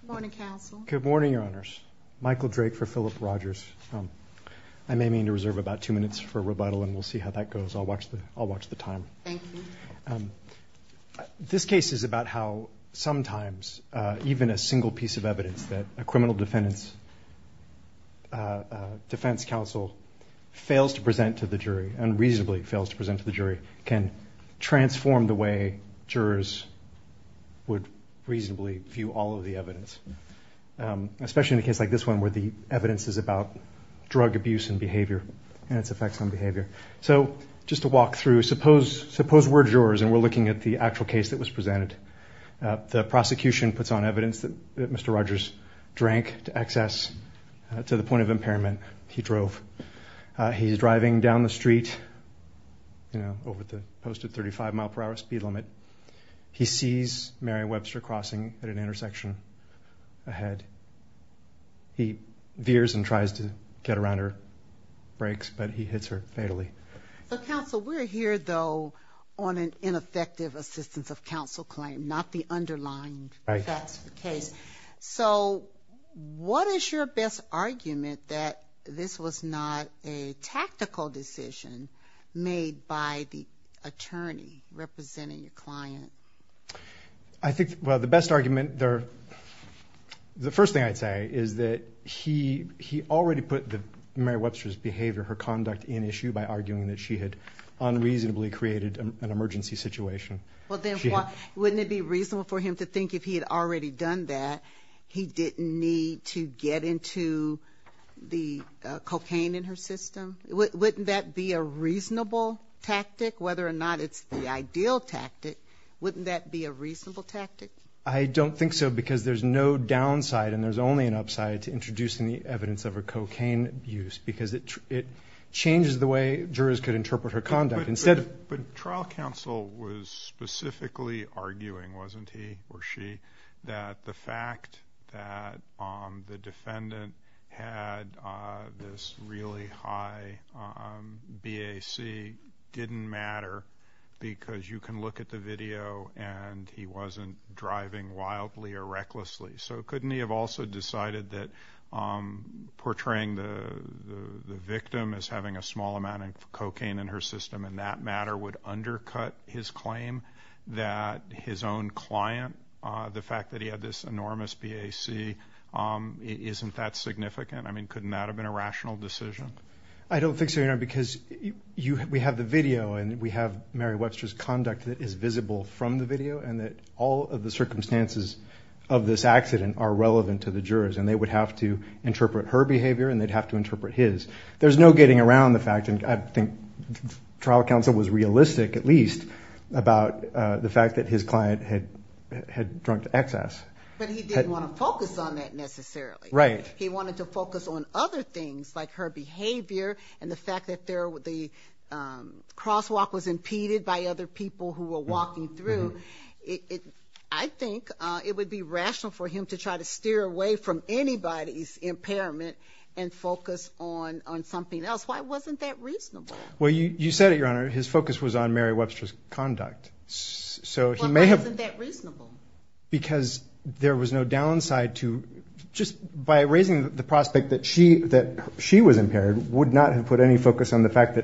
Good morning, Counsel. Good morning, Your Honors. Michael Drake for Philip Rogers. I may mean to reserve about two minutes for rebuttal and we'll see how that goes. I'll watch the time. Thank you. This case is about how sometimes even a single piece of evidence that a criminal defendant's defense counsel fails to present to the jury, unreasonably fails to present to the jury, can transform the way jurors would reasonably view all of the evidence. Especially in a case like this one where the evidence is about drug abuse and behavior and its effects on behavior. So just to walk through, suppose we're jurors and we're looking at the actual case that was presented. The prosecution puts on evidence that Mr. Rogers drank to access to the point of impairment he drove. He's driving down the street, you know, over the posted 35 mile per hour speed limit. He sees Mary Webster crossing at an intersection ahead. He veers and tries to get around her brakes but he hits her fatally. So Counsel, we're here though on an ineffective assistance of counsel claim, not the underlined facts of the case. So what is your best argument that this was not a tactical decision made by the attorney representing your client? I think, well, the best argument, the first thing I'd say is that he already put Mary Webster's behavior, her conduct in issue by arguing that she had unreasonably created an emergency situation. Well then, wouldn't it be reasonable for him to think if he had already done that, he didn't need to get into the cocaine in her system? Wouldn't that be a reasonable tactic? Whether or not it's the ideal tactic, wouldn't that be a reasonable tactic? I don't think so because there's no downside and there's only an upside to introducing the evidence of her cocaine abuse because it changes the way jurors could interpret her conduct. But trial counsel was specifically arguing, wasn't he or she, that the fact that the defendant had this really high BAC didn't matter because you can look at the video and he wasn't driving wildly or recklessly. So couldn't he have also decided that portraying the victim as having a small amount of cocaine in her system in that matter would undercut his claim that his own client, the fact that he had this enormous BAC, isn't that significant? I mean, couldn't that have been a rational decision? I don't think so, Your Honor, because we have the video and we have Mary Webster's conduct that is visible from the video and that all of the circumstances of this accident are relevant to the jurors and they would have to interpret her behavior and they'd have to interpret his. There's no getting around the fact, and I think trial counsel was realistic at least, about the fact that his client had drunk excess. But he didn't want to focus on that necessarily. He wanted to focus on other things like her behavior and the fact that the crosswalk was impeded by other people who were walking through. I think it would be rational for him to try to steer away from anybody's impairment and focus on something else. Why wasn't that reasonable? Well, you said it, Your Honor, his focus was on Mary Webster's conduct. Why wasn't that reasonable? Because there was no downside to just by raising the prospect that she was impaired would not have put any more focus on the fact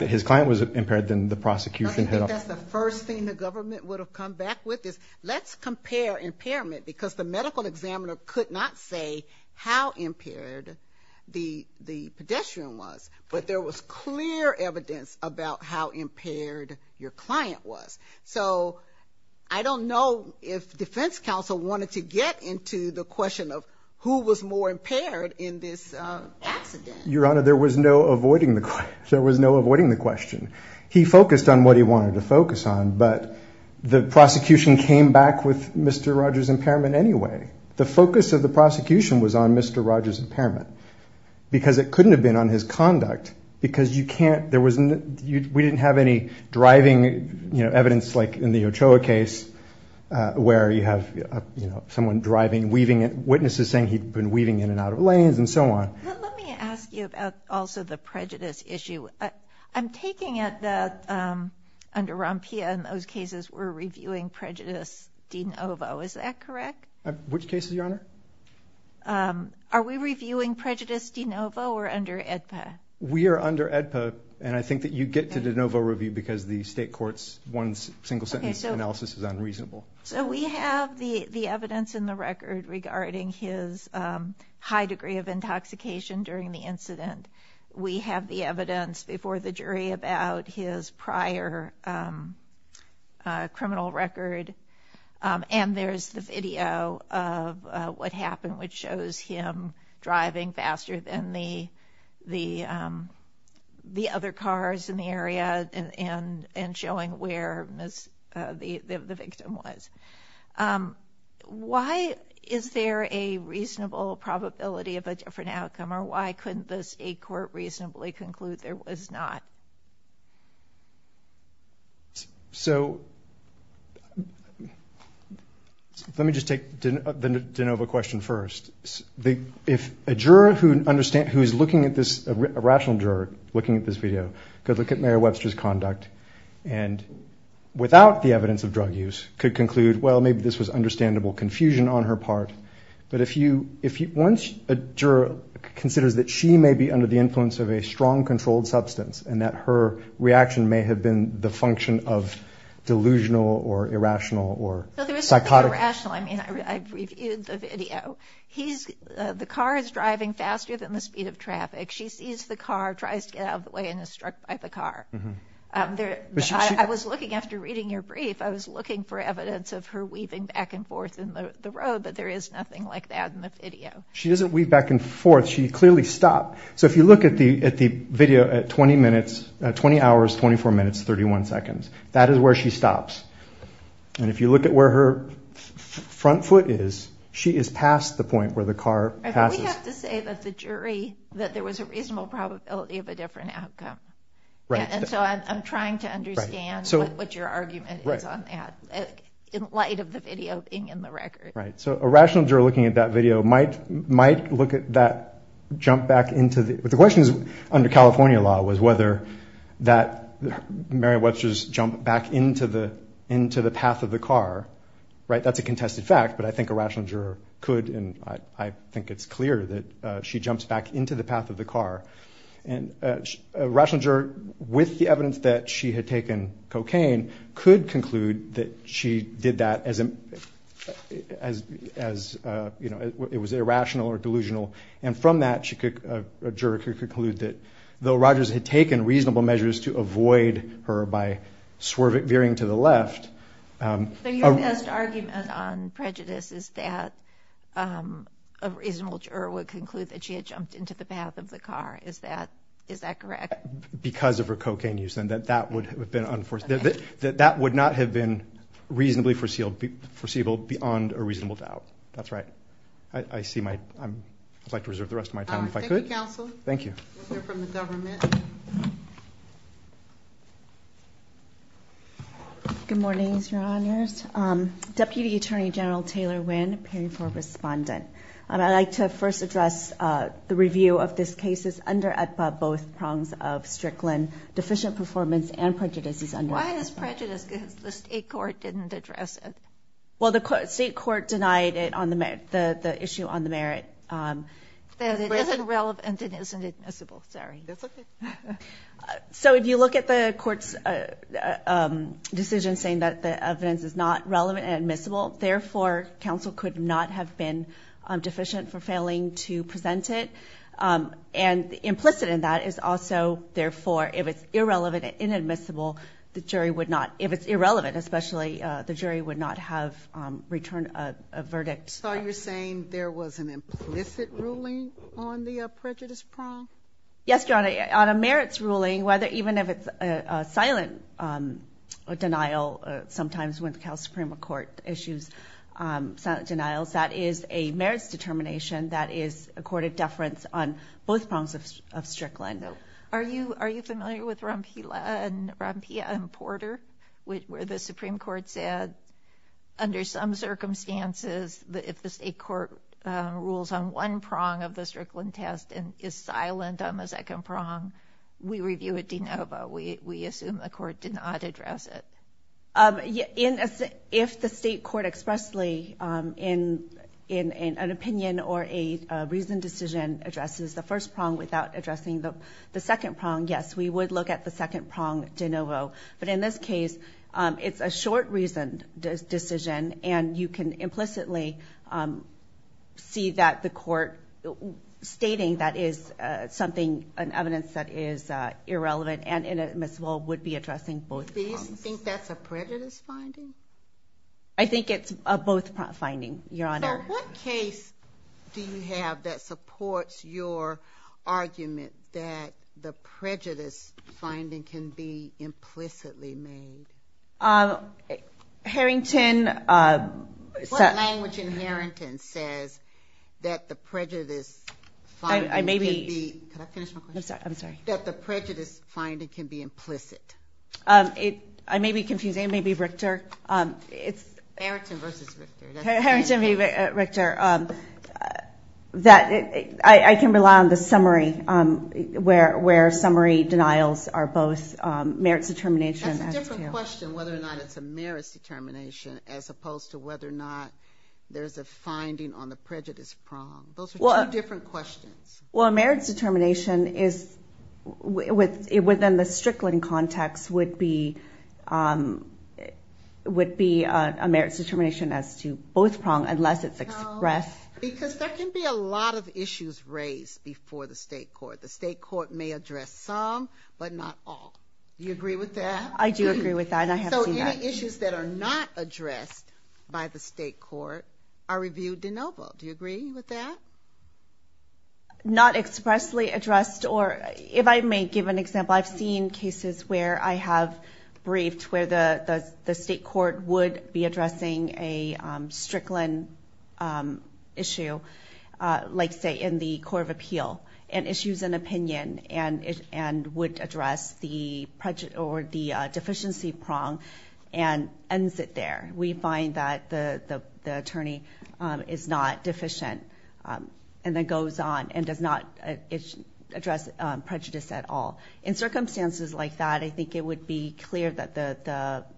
that his client was impaired than the prosecution. I think that's the first thing the government would have come back with is let's compare impairment because the medical examiner could not say how impaired the pedestrian was. But there was clear evidence about how impaired your client was. So I don't know if defense counsel wanted to get into the question of who was more impaired in this accident. Your Honor, there was no avoiding the question. He focused on what he wanted to focus on, but the prosecution came back with Mr. Rogers' impairment anyway. The focus of the prosecution was on Mr. Rogers' impairment because it couldn't have been on his conduct. Because we didn't have any driving evidence like in the Ochoa case where you have someone driving, witnesses saying he'd been weaving in and out of lanes and so on. Let me ask you about also the prejudice issue. I'm taking it that under Rompia in those cases we're reviewing prejudice de novo. Is that correct? Which cases, Your Honor? Are we reviewing prejudice de novo or under AEDPA? We are under AEDPA, and I think that you get to de novo review because the state court's one single sentence analysis is unreasonable. So we have the evidence in the record regarding his high degree of intoxication during the incident. We have the evidence before the jury about his prior criminal record, and there's the video of what happened, which shows him driving faster than the other cars in the area and showing where the victim was. Why is there a reasonable probability of a different outcome, or why couldn't the state court reasonably conclude there was not? So let me just take the de novo question first. If a juror who is looking at this, a rational juror looking at this video could look at Mayor Webster's conduct and without the evidence of drug use could conclude, well, maybe this was understandable confusion on her part, but once a juror considers that she may be under the influence of a strong controlled substance and that her reaction may have been the function of delusional or irrational or psychotic. No, there was nothing irrational. I mean, I reviewed the video. The car is driving faster than the speed of traffic. She sees the car, tries to get out of the way, and is struck by the car. I was looking after reading your brief, I was looking for evidence of her weaving back and forth in the road, but there is nothing like that in the video. She doesn't weave back and forth. She clearly stopped. So if you look at the video at 20 minutes, 20 hours, 24 minutes, 31 seconds, that is where she stops. And if you look at where her front foot is, she is past the point where the car passes. We have to say that the jury, that there was a reasonable probability of a different outcome. And so I'm trying to understand what your argument is on that in light of the video being in the record. Right. So a rational juror looking at that video might look at that jump back into the – but the question is under California law was whether that Mary Webster's jump back into the path of the car, right? That's a contested fact, but I think a rational juror could, and I think it's clear that she jumps back into the path of the car. And a rational juror, with the evidence that she had taken cocaine, could conclude that she did that as, you know, it was irrational or delusional. And from that, a juror could conclude that though Rogers had taken reasonable measures to avoid her by veering to the left. So your best argument on prejudice is that a reasonable juror would conclude that she had jumped into the path of the car. Is that correct? Because of her cocaine use, and that that would have been – that that would not have been reasonably foreseeable beyond a reasonable doubt. That's right. I see my – I'd like to reserve the rest of my time if I could. Thank you, counsel. Thank you. We'll hear from the government. Good morning, Your Honors. Deputy Attorney General Taylor Wynn, appearing for respondent. And I'd like to first address the review of this case's under-at-ba both prongs of Strickland, deficient performance and prejudices under-at-ba. Why is it prejudiced? Because the state court didn't address it. Well, the state court denied it on the – the issue on the merit. That it isn't relevant and it isn't admissible. Sorry. That's okay. So if you look at the court's decision saying that the evidence is not relevant and admissible, therefore, counsel could not have been deficient for failing to present it. And implicit in that is also, therefore, if it's irrelevant and inadmissible, the jury would not – if it's irrelevant, especially, the jury would not have returned a verdict. So you're saying there was an implicit ruling on the prejudice prong? Yes, Your Honor. On a merits ruling, whether – even if it's a silent denial, sometimes when the House Supreme Court issues silent denials, that is a merits determination that is accorded deference on both prongs of Strickland. Are you – are you familiar with Rompilla and – Rompilla and Porter, where the Supreme Court said, under some circumstances, if the state court rules on one prong of the Strickland test and is silent on the second prong, we review it de novo. We assume the court did not address it. If the state court expressly, in an opinion or a reasoned decision, addresses the first prong without addressing the second prong, yes, we would look at the second prong de novo. But in this case, it's a short reasoned decision, and you can implicitly see that the court stating that is something – an evidence that is irrelevant and inadmissible would be addressing both prongs. Do you think that's a prejudice finding? I think it's a both finding, Your Honor. So what case do you have that supports your argument that the prejudice finding can be implicitly made? Harrington – What language in Harrington says that the prejudice finding can be – I may be – Can I finish my question? I'm sorry. I'm sorry. That the prejudice finding can be implicit? I may be confusing. It may be Richter. Harrington versus Richter. Harrington v. Richter. I can rely on the summary, where summary denials are both merits determination as to – That's a different question, whether or not it's a merits determination, as opposed to whether or not there's a finding on the prejudice prong. Those are two different questions. Well, a merits determination is – within the Strickland context would be a merits determination as to both prongs, unless it's expressed. Because there can be a lot of issues raised before the state court. The state court may address some, but not all. Do you agree with that? I do agree with that, and I have seen that. So any issues that are not addressed by the state court are reviewed de novo. Do you agree with that? Not expressly addressed or – if I may give an example, I've seen cases where I have briefed where the state court would be addressing a Strickland issue, like, say, in the court of appeal, and issues an opinion and would address the deficiency prong and ends it there. We find that the attorney is not deficient and then goes on and does not address prejudice at all. In circumstances like that, I think it would be clear that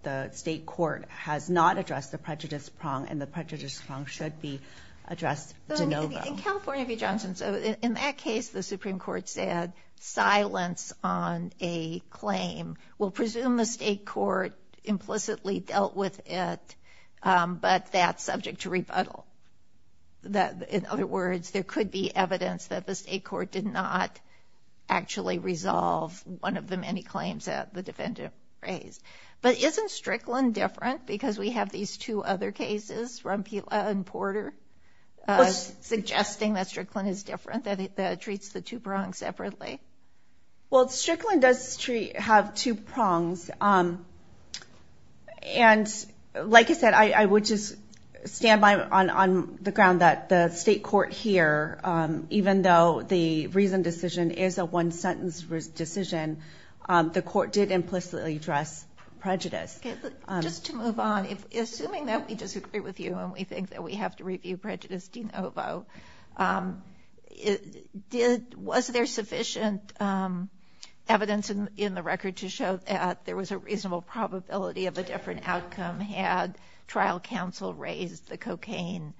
the state court has not addressed the prejudice prong and the prejudice prong should be addressed de novo. In California v. Johnson, in that case, the Supreme Court said silence on a claim will presume the state court implicitly dealt with it, but that's subject to rebuttal. In other words, there could be evidence that the state court did not actually resolve one of the many claims that the defendant raised. But isn't Strickland different because we have these two other cases, Rompila and Porter, suggesting that Strickland is different, that it treats the two prongs separately? Well, Strickland does have two prongs. And like I said, I would just stand by on the ground that the state court here, even though the reasoned decision is a one-sentence decision, the court did implicitly address prejudice. Just to move on, assuming that we disagree with you and we think that we have to review prejudice de novo, was there sufficient evidence in the record to show that there was a reasonable probability of a different outcome had trial counsel raised the cocaine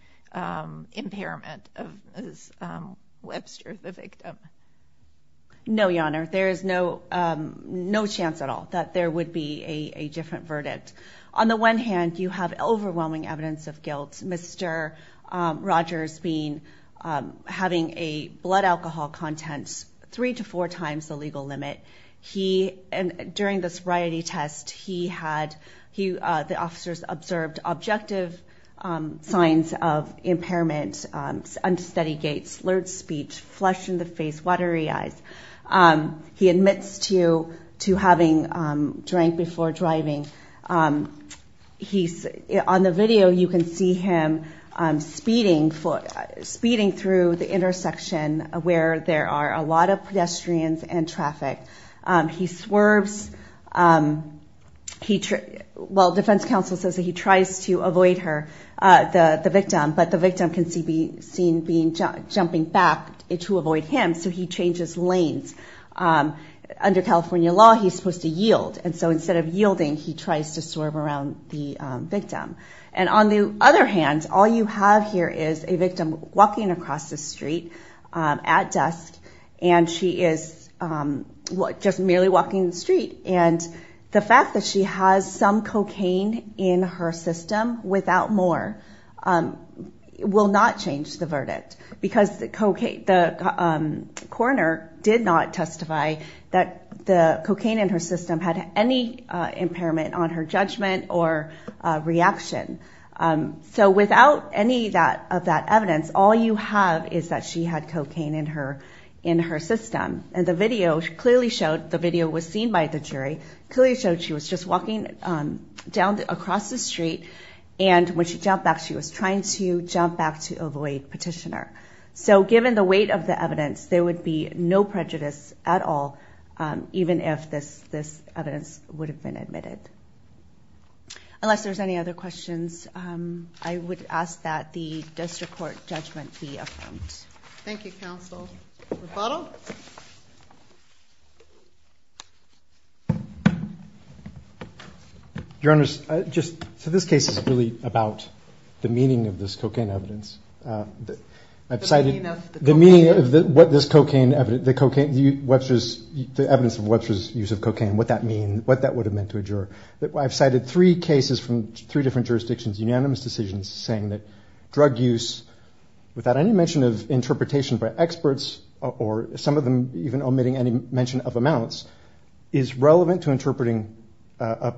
impairment of Webster, the victim? No, Your Honor, there is no chance at all that there would be a different verdict. On the one hand, you have overwhelming evidence of guilt, Mr. Rogers having a blood alcohol content three to four times the legal limit. During the sobriety test, the officers observed objective signs of impairment, unsteady gait, slurred speech, flushed-in-the-face, watery eyes. He admits to having drank before driving. On the video, you can see him speeding through the intersection where there are a lot of pedestrians and traffic. He swerves. Well, defense counsel says that he tries to avoid the victim, but the victim can be seen jumping back to avoid him, so he changes lanes. Under California law, he's supposed to yield, and so instead of yielding, he tries to swerve around the victim. On the other hand, all you have here is a victim walking across the street at dusk, and she is just merely walking the street. The fact that she has some cocaine in her system without more will not change the verdict because the coroner did not testify that the cocaine in her system had any impairment on her judgment or reaction. So without any of that evidence, all you have is that she had cocaine in her system. And the video clearly showed, the video was seen by the jury, clearly showed she was just walking down across the street, and when she jumped back, she was trying to jump back to avoid petitioner. So given the weight of the evidence, there would be no prejudice at all, even if this evidence would have been admitted. Unless there's any other questions, I would ask that the district court judgment be affirmed. Thank you, counsel. Rebuttal? Rebuttal? Your Honor, so this case is really about the meaning of this cocaine evidence. I've cited the meaning of what this cocaine evidence, the evidence of Webster's use of cocaine, what that would have meant to a juror. I've cited three cases from three different jurisdictions, unanimous decisions saying that drug use, without any mention of interpretation by experts, or some of them even omitting any mention of amounts, is relevant to interpreting a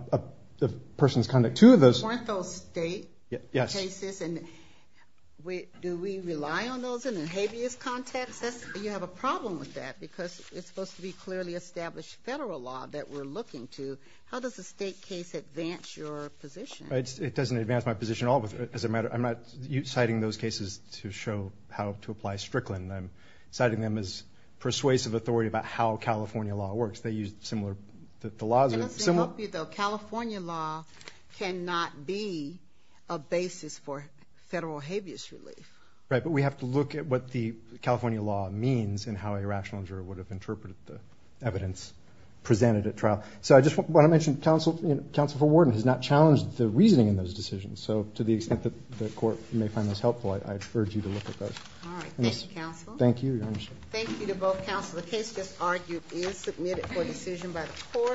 person's conduct. Two of those weren't those state cases, and do we rely on those in a habeas context? You have a problem with that, because it's supposed to be clearly established federal law that we're looking to. How does a state case advance your position? It doesn't advance my position at all. I'm not citing those cases to show how to apply Strickland. I'm citing them as persuasive authority about how California law works. They use similar laws. Can I say something, though? California law cannot be a basis for federal habeas relief. Right, but we have to look at what the California law means and how a rational juror would have interpreted the evidence presented at trial. So I just want to mention counsel for warden has not challenged the reasoning in those decisions, so to the extent that the court may find this helpful, I urge you to look at those. All right. Thank you, counsel. Thank you, Your Honor. Thank you to both counsel. The case just argued is submitted for decision by the court.